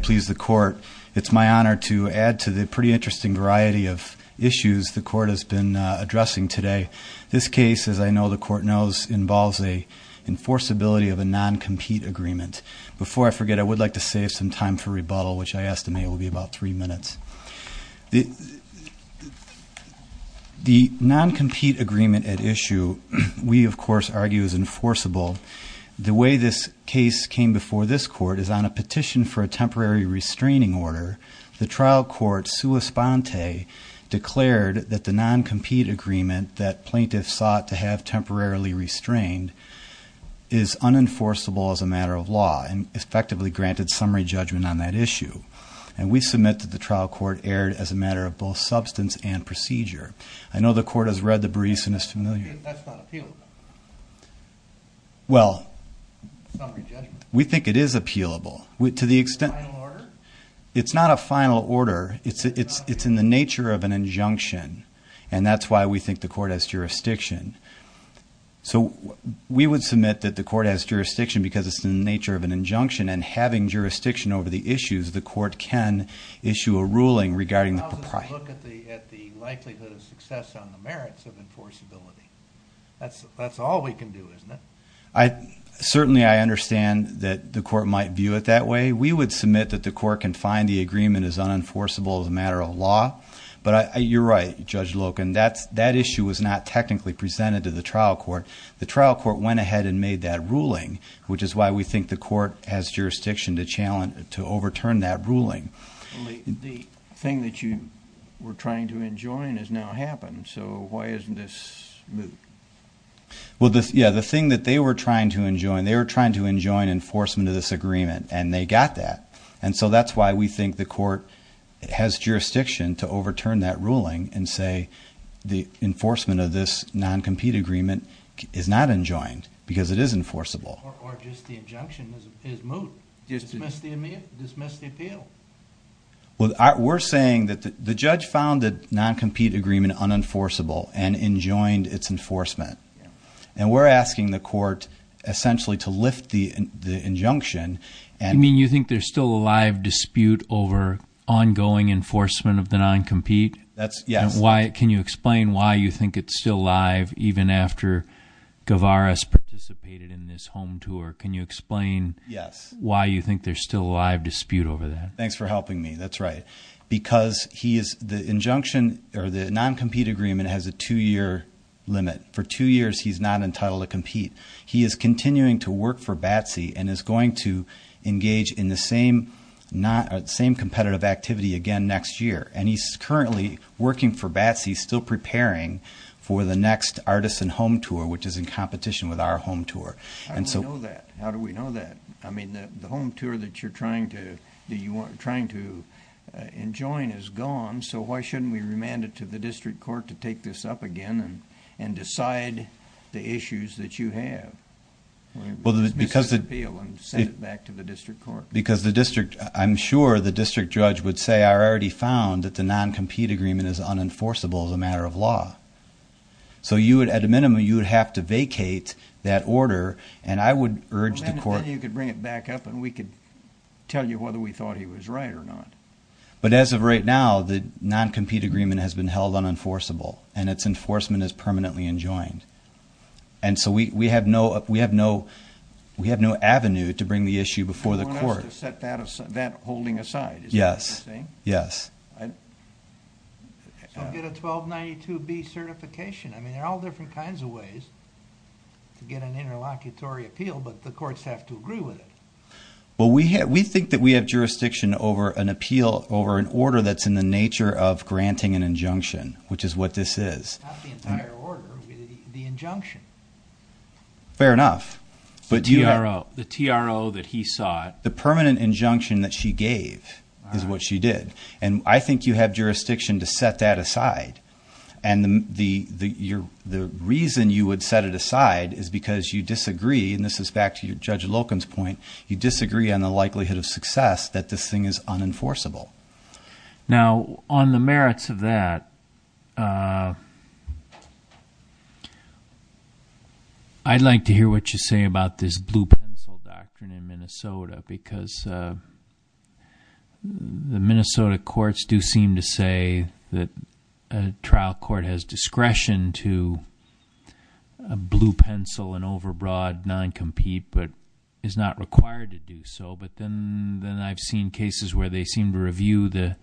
Please the court. It's my honor to add to the pretty interesting variety of issues the court has been addressing today. This case, as I know the court knows, involves a enforceability of a non-compete agreement. Before I forget, I would like to save some time for rebuttal, which I estimate will be about three minutes. The non-compete agreement at issue we, of course, argue is enforceable. The way this case came before this court is on a petition for a temporary restraining order. The trial court, sua sponte, declared that the non-compete agreement that plaintiffs sought to have temporarily restrained is unenforceable as a matter of law and effectively granted summary judgment on that issue. And we submit that the trial court erred as a matter of both substance and procedure. I know the court has read the briefs and is familiar. Well, we think it is appealable. It's not a final order. It's in the nature of an injunction. And that's why we think the court has jurisdiction. So we would submit that the court has jurisdiction because it's in the nature of an injunction. And having jurisdiction over the issues, the court can issue a ruling regarding the propriety. I look at the likelihood of success on the merits of enforceability. That's all we can do, isn't it? Certainly I understand that the court might view it that way. We would submit that the court can find the agreement is unenforceable as a matter of law. But you're right, Judge Loken, that issue was not technically presented to the trial court. The trial court went ahead and made that ruling, The thing that you were trying to enjoin has now happened. So why isn't this moot? Well, yeah, the thing that they were trying to enjoin, they were trying to enjoin enforcement of this agreement, and they got that. And so that's why we think the court has jurisdiction to overturn that ruling and say the enforcement of this non-compete agreement is not enjoined because it is enforceable. Or just the injunction is moot. Dismiss the appeal. Well, we're saying that the judge found the non-compete agreement unenforceable and enjoined its enforcement. And we're asking the court essentially to lift the injunction. You mean you think there's still a live dispute over ongoing enforcement of the non-compete? Yes. Can you explain why you think it's still live even after Gavaris participated in this home tour? Can you explain why you think there's still a live dispute over that? Thanks for helping me. That's right. Because the non-compete agreement has a two-year limit. For two years he's not entitled to compete. He is continuing to work for BATSE and is going to engage in the same competitive activity again next year. And he's currently working for BATSE, still preparing for the next Artisan Home Tour, which is in competition with our home tour. How do we know that? How do we know that? I mean, the home tour that you're trying to enjoin is gone, so why shouldn't we remand it to the district court to take this up again and decide the issues that you have? Dismiss the appeal and send it back to the district court. Because I'm sure the district judge would say, I already found that the non-compete agreement is unenforceable as a matter of law. So you would, at a minimum, you would have to vacate that order, and I would urge the court. Then you could bring it back up and we could tell you whether we thought he was right or not. But as of right now, the non-compete agreement has been held unenforceable, and its enforcement is permanently enjoined. And so we have no avenue to bring the issue before the court. You want us to set that holding aside? Yes. Is that what you're saying? Yes. So get a 1292B certification. I mean, there are all different kinds of ways to get an interlocutory appeal, but the courts have to agree with it. Well, we think that we have jurisdiction over an appeal, over an order that's in the nature of granting an injunction, which is what this is. Not the entire order, the injunction. Fair enough. The TRO that he sought. The permanent injunction that she gave is what she did. And I think you have jurisdiction to set that aside. And the reason you would set it aside is because you disagree, and this is back to Judge Locum's point, you disagree on the likelihood of success that this thing is unenforceable. Now, on the merits of that, I'd like to hear what you say about this blue-pencil doctrine in Minnesota, because the Minnesota courts do seem to say that a trial court has discretion to blue-pencil and overbroad non-compete but is not required to do so. But then I've seen cases where they seem to review the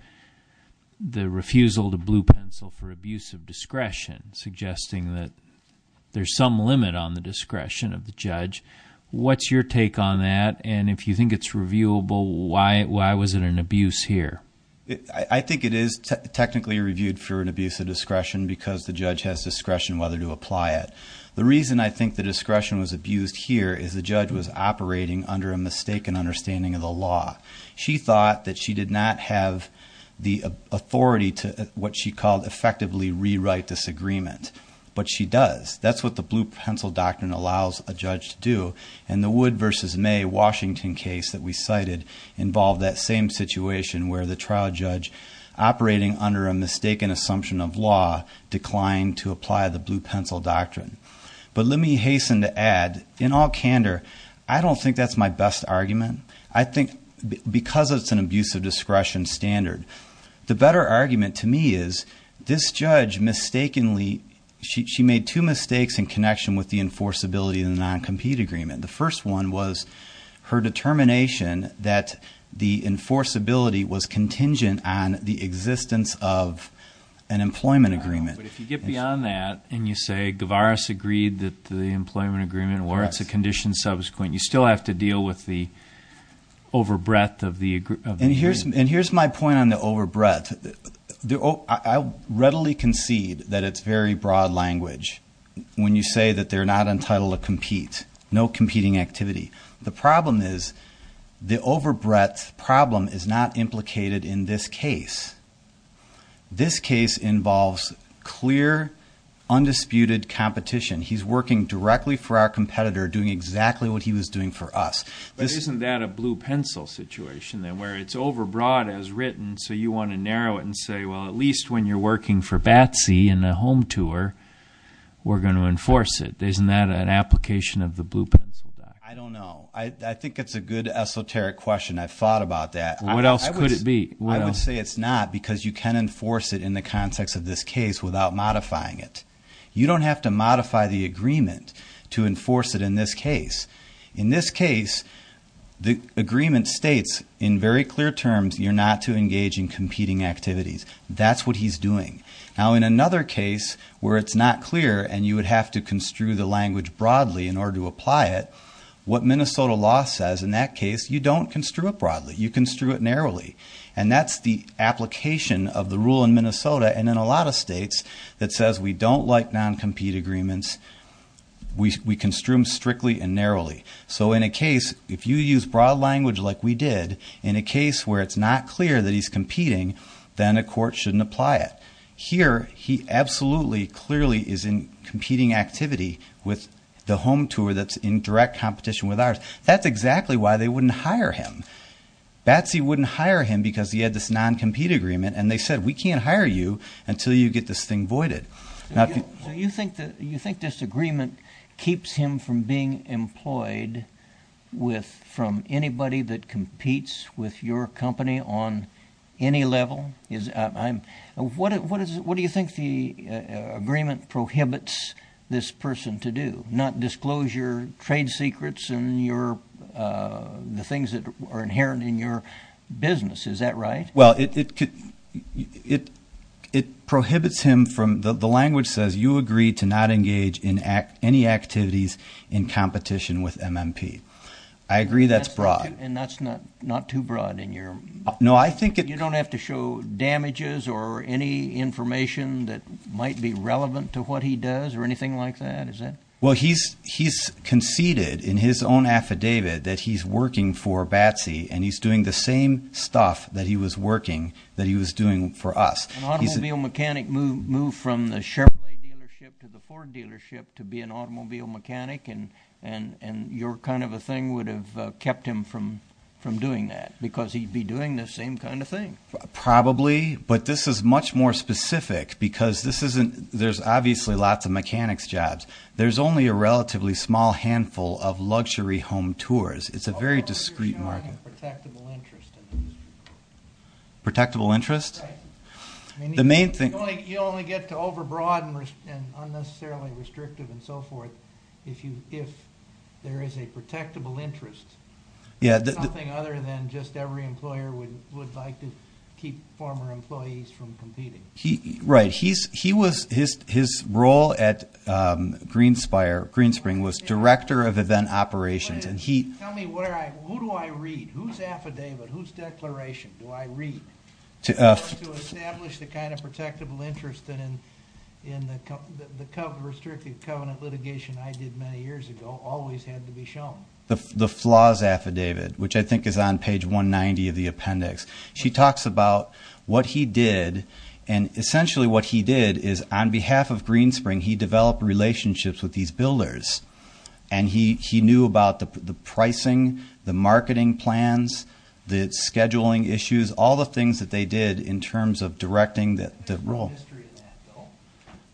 refusal to blue-pencil for abuse of discretion, suggesting that there's some limit on the discretion of the judge. What's your take on that? And if you think it's reviewable, why was it an abuse here? I think it is technically reviewed for an abuse of discretion because the judge has discretion whether to apply it. The reason I think the discretion was abused here is the judge was operating under a mistaken understanding of the law. She thought that she did not have the authority to what she called effectively rewrite this agreement, but she does. That's what the blue-pencil doctrine allows a judge to do. And the Wood v. May Washington case that we cited involved that same situation where the trial judge, operating under a mistaken assumption of law, declined to apply the blue-pencil doctrine. But let me hasten to add, in all candor, I don't think that's my best argument. I think because it's an abuse of discretion standard, the better argument to me is this judge mistakenly made two mistakes in connection with the enforceability of the non-compete agreement. The first one was her determination that the enforceability was contingent on the existence of an employment agreement. But if you get beyond that and you say, Gavaris agreed that the employment agreement was a condition subsequent, you still have to deal with the over-breadth of the agreement. And here's my point on the over-breadth. I readily concede that it's very broad language when you say that they're not entitled to compete, no competing activity. The problem is the over-breadth problem is not implicated in this case. This case involves clear, undisputed competition. He's working directly for our competitor, doing exactly what he was doing for us. Isn't that a blue-pencil situation then, where it's over-broad as written, and so you want to narrow it and say, well, at least when you're working for BATSE in a home tour, we're going to enforce it. Isn't that an application of the blue-pencil doctrine? I don't know. I think it's a good esoteric question. I've thought about that. What else could it be? I would say it's not because you can enforce it in the context of this case without modifying it. You don't have to modify the agreement to enforce it in this case. In this case, the agreement states in very clear terms you're not to engage in competing activities. That's what he's doing. Now, in another case where it's not clear and you would have to construe the language broadly in order to apply it, what Minnesota law says in that case, you don't construe it broadly. You construe it narrowly, and that's the application of the rule in Minnesota and in a lot of states that says we don't like non-compete agreements. We construe them strictly and narrowly. So in a case, if you use broad language like we did, in a case where it's not clear that he's competing, then a court shouldn't apply it. Here, he absolutely clearly is in competing activity with the home tour that's in direct competition with ours. That's exactly why they wouldn't hire him. Batsy wouldn't hire him because he had this non-compete agreement, and they said we can't hire you until you get this thing voided. So you think this agreement keeps him from being employed from anybody that competes with your company on any level? What do you think the agreement prohibits this person to do? Not disclosure trade secrets and the things that are inherent in your business. Is that right? Well, it prohibits him from—the language says you agree to not engage in any activities in competition with MMP. I agree that's broad. And that's not too broad in your— No, I think it— You don't have to show damages or any information that might be relevant to what he does or anything like that? Well, he's conceded in his own affidavit that he's working for Batsy, and he's doing the same stuff that he was working that he was doing for us. An automobile mechanic moved from the Chevrolet dealership to the Ford dealership to be an automobile mechanic, and your kind of a thing would have kept him from doing that because he'd be doing the same kind of thing. Probably, but this is much more specific because this isn't—there's obviously lots of mechanics jobs. There's only a relatively small handful of luxury home tours. It's a very discreet market. Well, you're showing a protectable interest in this. Protectable interest? Right. The main thing— You only get to overbroad and unnecessarily restrictive and so forth if there is a protectable interest. There's nothing other than just every employer would like to keep former employees from competing. Right. His role at Greenspring was director of event operations, and he— Tell me, who do I read? Whose affidavit, whose declaration do I read to establish the kind of protectable interest that in the restricted covenant litigation I did many years ago always had to be shown? The flaws affidavit, which I think is on page 190 of the appendix. She talks about what he did, and essentially what he did is on behalf of Greenspring, he developed relationships with these builders, and he knew about the pricing, the marketing plans, the scheduling issues, all the things that they did in terms of directing the role. Is there a history in that, though?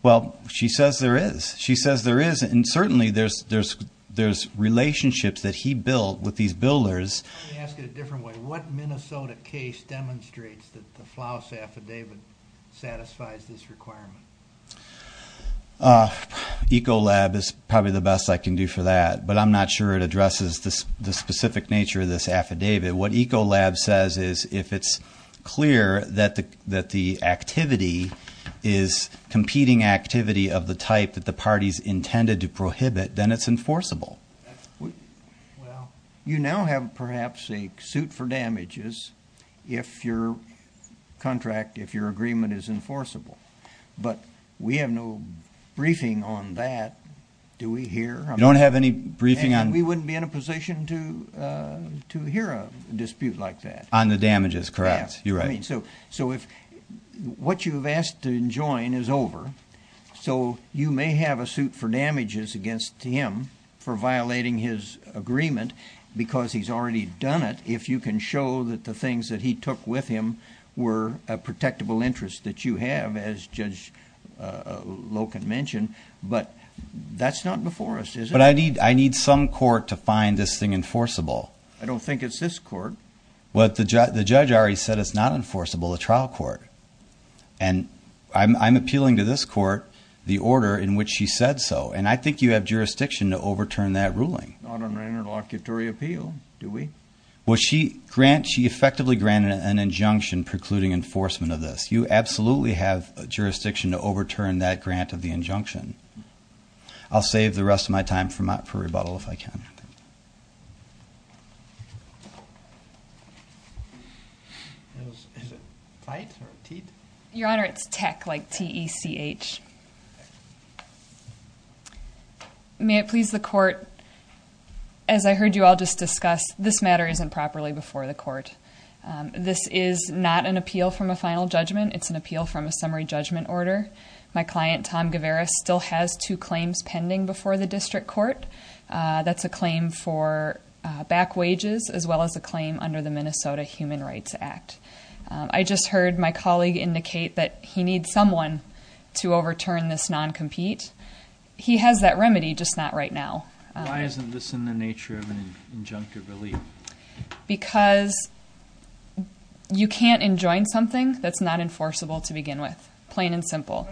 Well, she says there is. She says there is, and certainly there's relationships that he built with these builders. Let me ask it a different way. What Minnesota case demonstrates that the flaws affidavit satisfies this requirement? Ecolab is probably the best I can do for that, but I'm not sure it addresses the specific nature of this affidavit. What Ecolab says is if it's clear that the activity is competing activity of the type that the parties intended to prohibit, then it's enforceable. Well, you now have perhaps a suit for damages if your contract, if your agreement is enforceable. But we have no briefing on that. Do we here? You don't have any briefing on that? We wouldn't be in a position to hear a dispute like that. On the damages, correct. Yeah. You're right. So if what you've asked to enjoin is over, so you may have a suit for damages against him for violating his agreement because he's already done it, if you can show that the things that he took with him were a protectable interest that you have, as Judge Loken mentioned. But that's not before us, is it? But I need some court to find this thing enforceable. I don't think it's this court. Well, the judge already said it's not enforceable, the trial court. And I'm appealing to this court the order in which she said so. And I think you have jurisdiction to overturn that ruling. Not under interlocutory appeal, do we? Well, she effectively granted an injunction precluding enforcement of this. You absolutely have jurisdiction to overturn that grant of the injunction. I'll save the rest of my time for rebuttal if I can. Your Honor, it's tech, like T-E-C-H. May it please the court, as I heard you all just discuss, this matter isn't properly before the court. This is not an appeal from a final judgment. It's an appeal from a summary judgment order. My client, Tom Gavaris, still has two claims pending before the district court. That's a claim for back wages as well as a claim under the Minnesota Human Rights Act. I just heard my colleague indicate that he needs someone to overturn this non-compete. He has that remedy, just not right now. Why isn't this in the nature of an injunctive relief? Because you can't enjoin something that's not enforceable to begin with, plain and simple.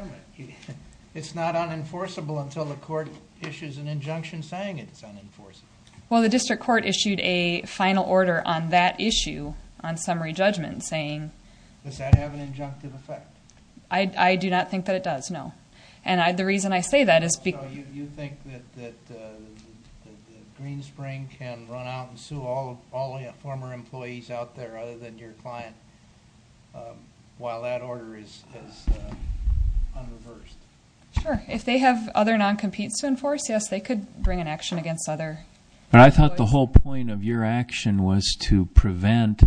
It's not unenforceable until the court issues an injunction saying it's unenforceable. Well, the district court issued a final order on that issue, on summary judgment, saying... Does that have an injunctive effect? I do not think that it does, no. And the reason I say that is because... So you think that Greenspring can run out and sue all former employees out there other than your client while that order is unreversed? Sure. If they have other non-competes to enforce, yes, they could bring an action against other employees. But I thought the whole point of your action was to prevent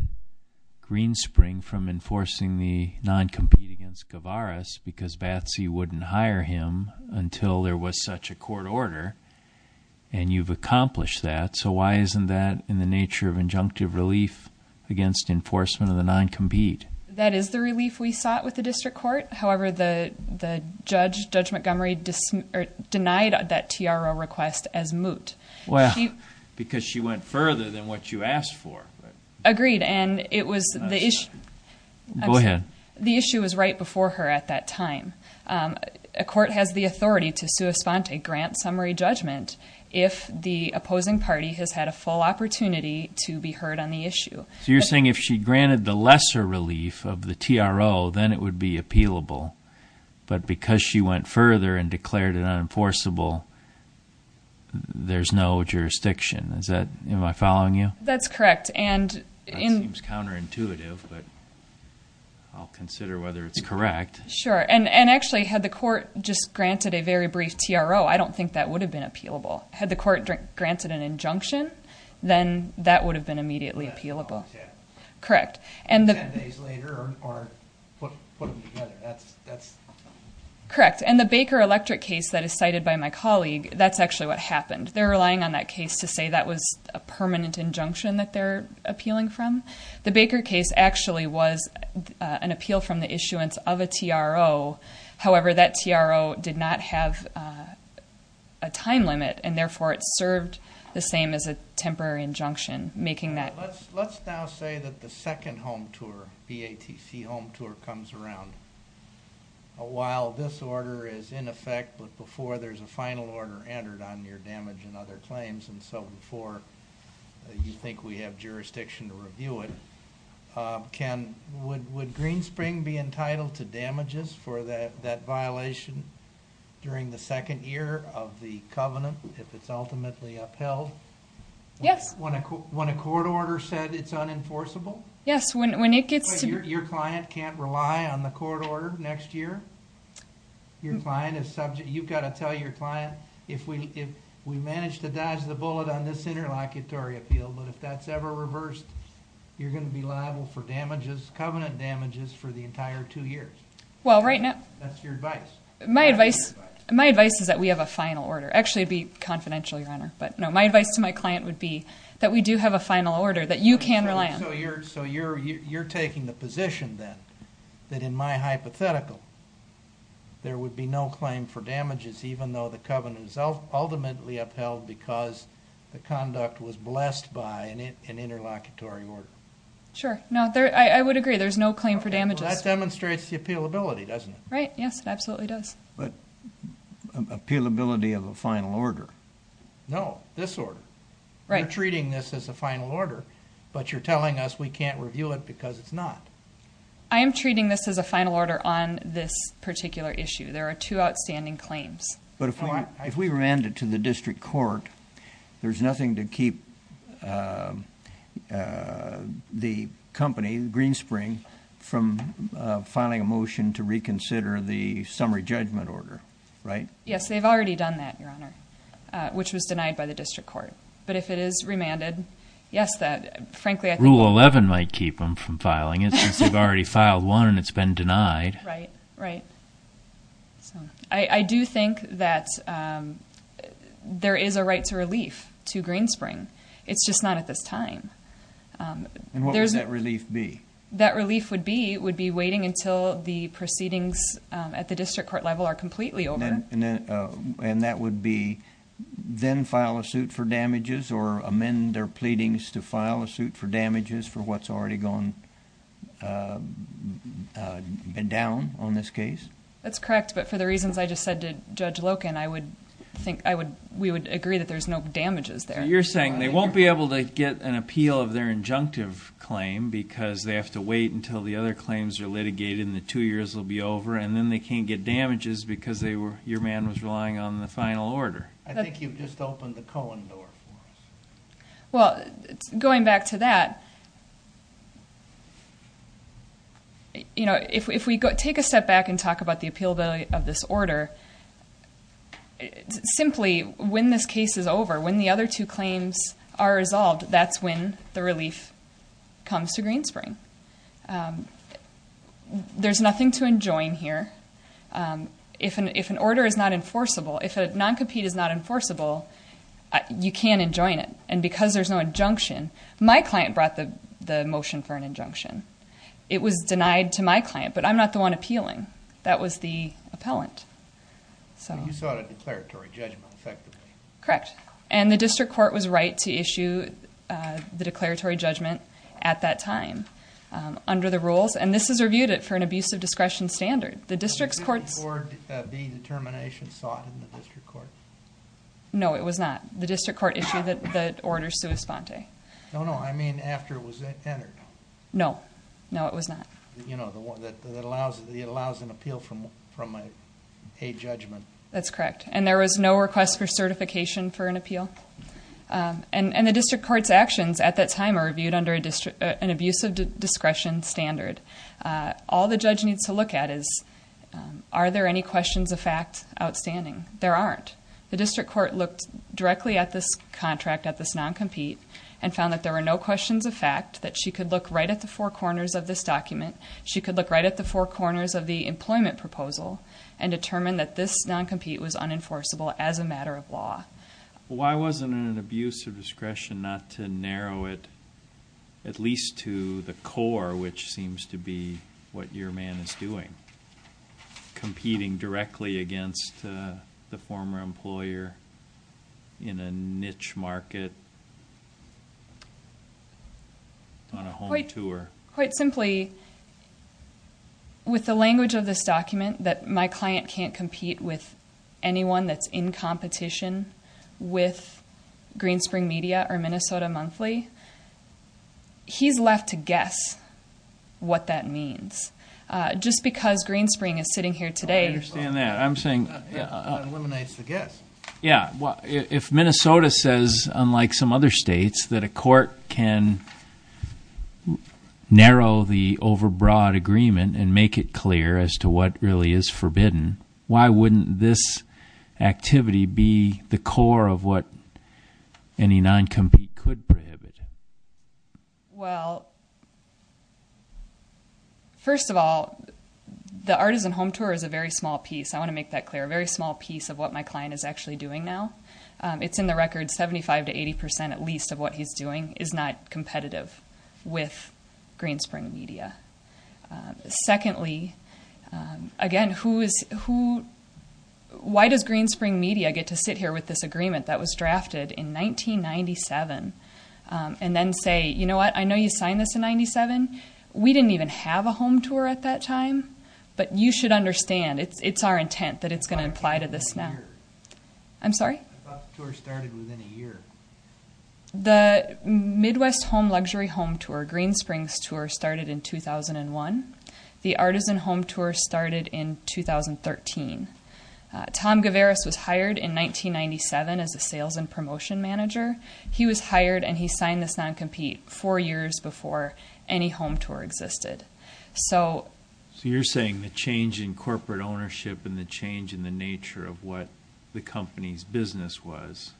Greenspring from enforcing the non-compete against Gavaris because Batsy wouldn't hire him until there was such a court order. And you've accomplished that. So why isn't that in the nature of injunctive relief against enforcement of the non-compete? That is the relief we sought with the district court. However, the judge, Judge Montgomery, denied that TRO request as moot. Well, because she went further than what you asked for. Agreed, and it was the issue... Go ahead. The issue was right before her at that time. A court has the authority to sue a grant summary judgment if the opposing party has had a full opportunity to be heard on the issue. So you're saying if she granted the lesser relief of the TRO, then it would be appealable. But because she went further and declared it unenforceable, there's no jurisdiction. Am I following you? That's correct. That seems counterintuitive, but I'll consider whether it's correct. Sure. And actually, had the court just granted a very brief TRO, I don't think that would have been appealable. Had the court granted an injunction, then that would have been immediately appealable. Correct. 10 days later or put them together. Correct. And the Baker Electric case that is cited by my colleague, that's actually what happened. They're relying on that case to say that was a permanent injunction that they're appealing from. The Baker case actually was an appeal from the issuance of a TRO. However, that TRO did not have a time limit, and therefore it served the same as a temporary injunction, making that... Let's now say that the second home tour, BATC home tour, comes around. While this order is in effect, but before there's a final order entered on your damage and other claims, and so before you think we have jurisdiction to review it, would Greenspring be entitled to damages for that violation during the second year of the covenant, if it's ultimately upheld? Yes. When a court order said it's unenforceable? Yes, when it gets to... Your client can't rely on the court order next year? Your client is subject... You've got to tell your client, if we manage to dodge the bullet on this interlocutory appeal, but if that's ever reversed, you're going to be liable for damages, covenant damages, for the entire two years. Well, right now... That's your advice. My advice is that we have a final order. Actually, it would be confidential, Your Honor, but no. My advice to my client would be that we do have a final order that you can rely on. So you're taking the position, then, that in my hypothetical, there would be no claim for damages even though the covenant is ultimately upheld because the conduct was blessed by an interlocutory order? Sure. No, I would agree there's no claim for damages. Well, that demonstrates the appealability, doesn't it? Right, yes, it absolutely does. But appealability of a final order? No, this order. You're treating this as a final order, but you're telling us we can't review it because it's not. I am treating this as a final order on this particular issue. There are two outstanding claims. But if we remand it to the district court, there's nothing to keep the company, Greenspring, from filing a motion to reconsider the summary judgment order, right? Yes, they've already done that, Your Honor, which was denied by the district court. But if it is remanded, yes, that, frankly, I think… Rule 11 might keep them from filing it since they've already filed one and it's been denied. Right, right. I do think that there is a right to relief to Greenspring. It's just not at this time. And what would that relief be? That relief would be waiting until the proceedings at the district court level are completely over. And that would be then file a suit for damages or amend their pleadings to file a suit for damages for what's already gone down on this case? That's correct, but for the reasons I just said to Judge Loken, I would think we would agree that there's no damages there. You're saying they won't be able to get an appeal of their injunctive claim because they have to wait until the other claims are litigated and the two years will be over, and then they can't get damages because your man was relying on the final order. I think you've just opened the Cohen door for us. Well, going back to that, if we take a step back and talk about the appealability of this order, simply when this case is over, when the other two claims are resolved, that's when the relief comes to Greenspring. There's nothing to enjoin here. If an order is not enforceable, if a non-compete is not enforceable, you can't enjoin it. And because there's no injunction, my client brought the motion for an injunction. It was denied to my client, but I'm not the one appealing. That was the appellant. You sought a declaratory judgment, effectively. Correct, and the district court was right to issue the declaratory judgment at that time. Under the rules, and this is reviewed for an abusive discretion standard. The district court's... Was this before the determination sought in the district court? No, it was not. The district court issued the order sua sponte. No, no, I mean after it was entered. No, no, it was not. You know, it allows an appeal from a judgment. That's correct, and there was no request for certification for an appeal. And the district court's actions at that time are reviewed under an abusive discretion standard. All the judge needs to look at is, are there any questions of fact outstanding? There aren't. The district court looked directly at this contract, at this non-compete, and found that there were no questions of fact, that she could look right at the four corners of this document. She could look right at the four corners of the employment proposal and determine that this non-compete was unenforceable as a matter of law. Why wasn't it an abusive discretion not to narrow it at least to the core, which seems to be what your man is doing, competing directly against the former employer in a niche market on a home tour? Quite simply, with the language of this document, that my client can't compete with anyone that's in competition with Greenspring Media or Minnesota Monthly, he's left to guess what that means. Just because Greenspring is sitting here today- I understand that. I'm saying- That eliminates the guess. Yeah. If Minnesota says, unlike some other states, that a court can narrow the overbroad agreement and make it clear as to what really is forbidden, why wouldn't this activity be the core of what any non-compete could prohibit? Well, first of all, the artisan home tour is a very small piece. I want to make that clear. A very small piece of what my client is actually doing now. It's in the record 75% to 80% at least of what he's doing is not competitive with Greenspring Media. Secondly, again, why does Greenspring Media get to sit here with this agreement that was drafted in 1997 and then say, you know what? I know you signed this in 97. We didn't even have a home tour at that time, but you should understand. It's our intent that it's going to apply to this now. I'm sorry? I thought the tour started within a year. The Midwest Home Luxury Home Tour, Greenspring's tour, started in 2001. The artisan home tour started in 2013. Tom Gavaris was hired in 1997 as a sales and promotion manager. He was hired, and he signed this non-compete four years before any home tour existed. So you're saying the change in corporate ownership and the change in the nature of what the company's business was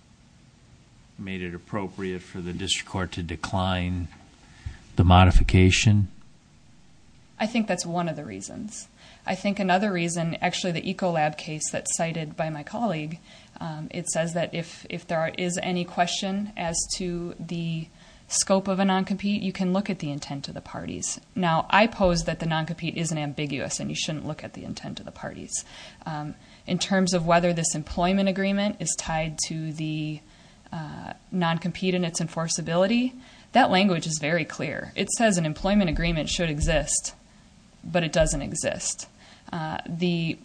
made it appropriate for the district court to decline the modification? I think that's one of the reasons. I think another reason, actually, the Ecolab case that's cited by my colleague, it says that if there is any question as to the scope of a non-compete, you can look at the intent of the parties. Now, I pose that the non-compete isn't ambiguous, and you shouldn't look at the intent of the parties. In terms of whether this employment agreement is tied to the non-compete and its enforceability, that language is very clear. It says an employment agreement should exist, but it doesn't exist. The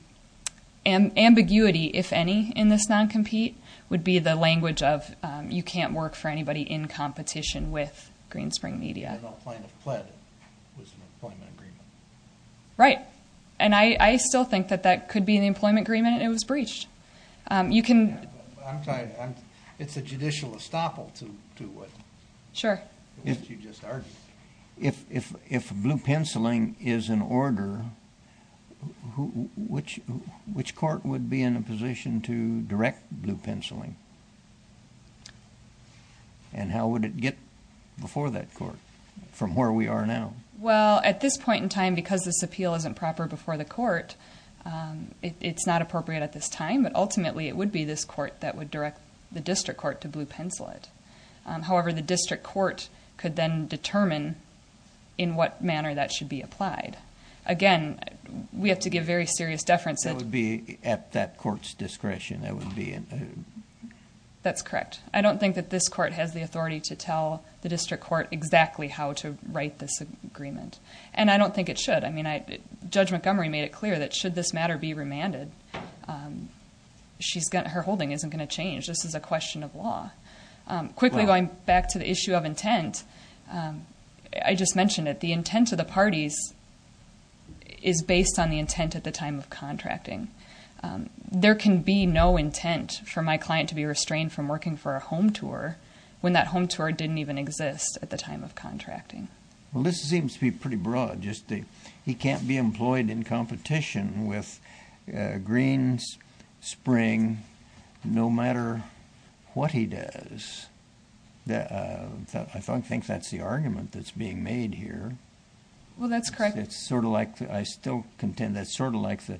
ambiguity, if any, in this non-compete would be the language of you can't work for anybody in competition with Greenspring Media. If an adult plaintiff pled, it was an employment agreement. Right, and I still think that that could be an employment agreement and it was breached. I'm sorry, it's a judicial estoppel to what you just argued. If blue penciling is an order, which court would be in a position to direct blue penciling, and how would it get before that court from where we are now? Well, at this point in time, because this appeal isn't proper before the court, it's not appropriate at this time, but ultimately it would be this court that would direct the district court to blue pencil it. However, the district court could then determine in what manner that should be applied. Again, we have to give very serious deference. It would be at that court's discretion. That's correct. I don't think that this court has the authority to tell the district court exactly how to write this agreement, and I don't think it should. Judge Montgomery made it clear that should this matter be remanded, her holding isn't going to change. This is a question of law. Quickly going back to the issue of intent, I just mentioned it. There can be no intent for my client to be restrained from working for a home tour when that home tour didn't even exist at the time of contracting. Well, this seems to be pretty broad. He can't be employed in competition with Green Spring no matter what he does. I think that's the argument that's being made here. Well, that's correct. I still contend that's sort of like the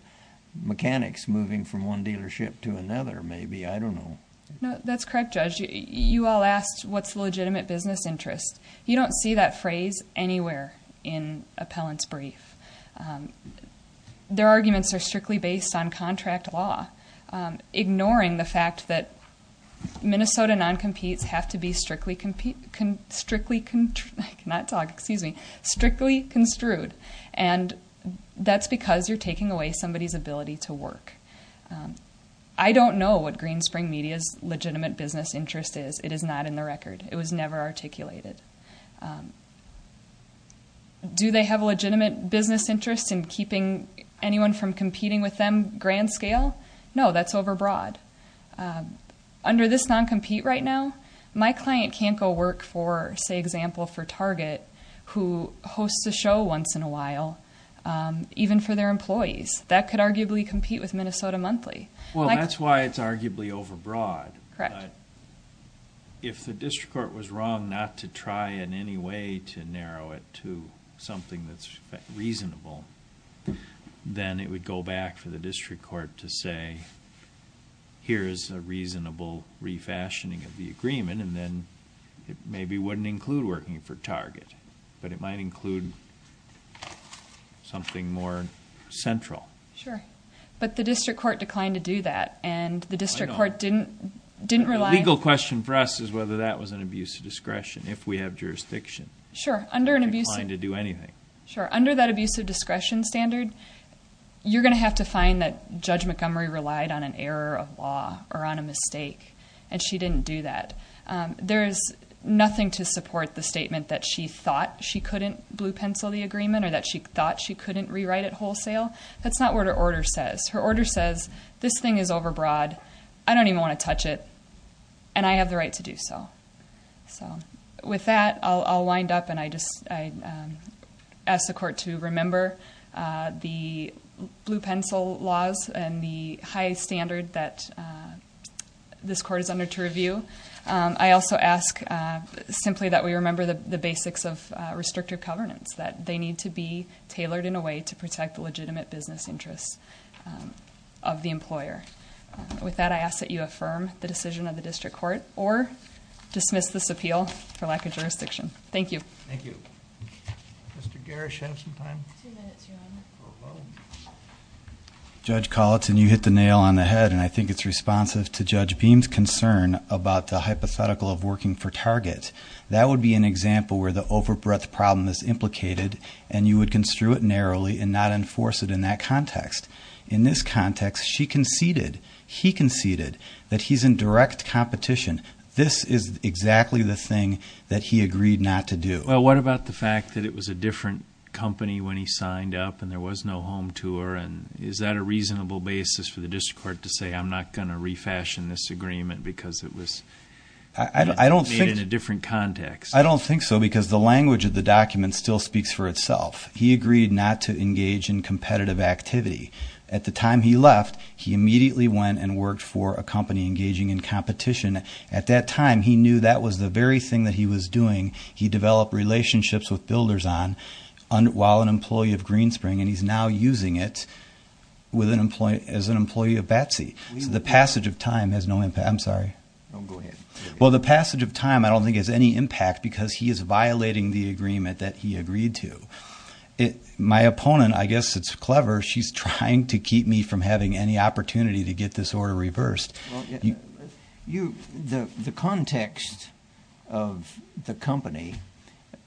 mechanics moving from one dealership to another maybe. I don't know. No, that's correct, Judge. You all asked what's the legitimate business interest. You don't see that phrase anywhere in appellant's brief. Their arguments are strictly based on contract law, ignoring the fact that Minnesota non-competes have to be strictly construed. That's because you're taking away somebody's ability to work. I don't know what Green Spring Media's legitimate business interest is. It is not in the record. It was never articulated. Do they have a legitimate business interest in keeping anyone from competing with them grand scale? No, that's overbroad. Under this non-compete right now, my client can't go work for, say, for example, for Target, who hosts a show once in a while, even for their employees. That could arguably compete with Minnesota Monthly. Well, that's why it's arguably overbroad. Correct. If the district court was wrong not to try in any way to narrow it to something that's reasonable, then it would go back for the district court to say, here is a reasonable refashioning of the agreement, and then it maybe wouldn't include working for Target, but it might include something more central. Sure. But the district court declined to do that, and the district court didn't rely. The legal question for us is whether that was an abuse of discretion, if we have jurisdiction. Sure. Under an abuse of discretion standard, you're going to have to find that Judge Montgomery relied on an error of law or on a mistake, and she didn't do that. There is nothing to support the statement that she thought she couldn't blue pencil the agreement or that she thought she couldn't rewrite it wholesale. That's not what her order says. Her order says, this thing is overbroad, I don't even want to touch it, and I have the right to do so. With that, I'll wind up, and I ask the court to remember the blue pencil laws and the high standard that this court is under to review. I also ask simply that we remember the basics of restrictive covenants, that they need to be tailored in a way to protect the legitimate business interests of the employer. With that, I ask that you affirm the decision of the district court or dismiss this appeal for lack of jurisdiction. Thank you. Thank you. Mr. Garish, do you have some time? Two minutes, Your Honor. Judge Colleton, you hit the nail on the head, and I think it's responsive to Judge Beam's concern about the hypothetical of working for Target. That would be an example where the overbreadth problem is implicated, and you would construe it narrowly and not enforce it in that context. In this context, she conceded, he conceded, that he's in direct competition. This is exactly the thing that he agreed not to do. Well, what about the fact that it was a different company when he signed up and there was no home tour? Is that a reasonable basis for the district court to say I'm not going to refashion this agreement because it was made in a different context? I don't think so because the language of the document still speaks for itself. He agreed not to engage in competitive activity. At the time he left, he immediately went and worked for a company engaging in competition. At that time, he knew that was the very thing that he was doing. He developed relationships with builders on while an employee of Greenspring, and he's now using it as an employee of Batsy. So the passage of time has no impact. I'm sorry. No, go ahead. Well, the passage of time I don't think has any impact because he is violating the agreement that he agreed to. My opponent, I guess it's clever, she's trying to keep me from having any opportunity to get this order reversed. The context of the company,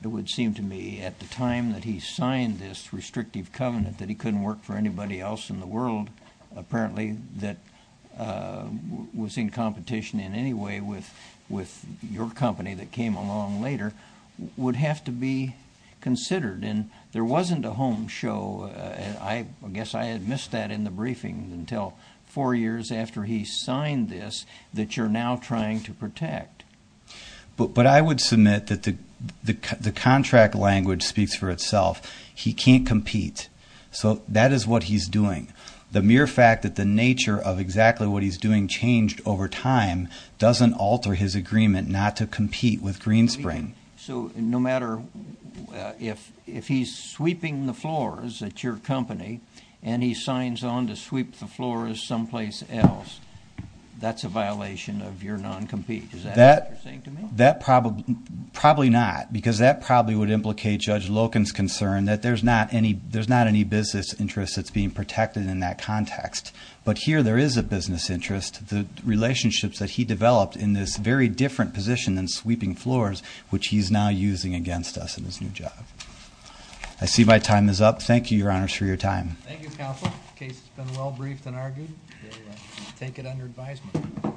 it would seem to me, at the time that he signed this restrictive covenant that he couldn't work for anybody else in the world apparently that was in competition in any way with your company that came along later, would have to be considered. There wasn't a home show. I guess I had missed that in the briefing until four years after he signed this that you're now trying to protect. But I would submit that the contract language speaks for itself. He can't compete. So that is what he's doing. The mere fact that the nature of exactly what he's doing changed over time doesn't alter his agreement not to compete with Greenspring. So no matter if he's sweeping the floors at your company and he signs on to sweep the floors someplace else, that's a violation of your non-compete. Is that what you're saying to me? Probably not because that probably would implicate Judge Loken's concern that there's not any business interest that's being protected in that context. But here there is a business interest. The relationships that he developed in this very different position than sweeping floors, which he's now using against us in his new job. I see my time is up. Thank you, Your Honors, for your time. Thank you, Counsel. The case has been well briefed and argued. We take it under advisement.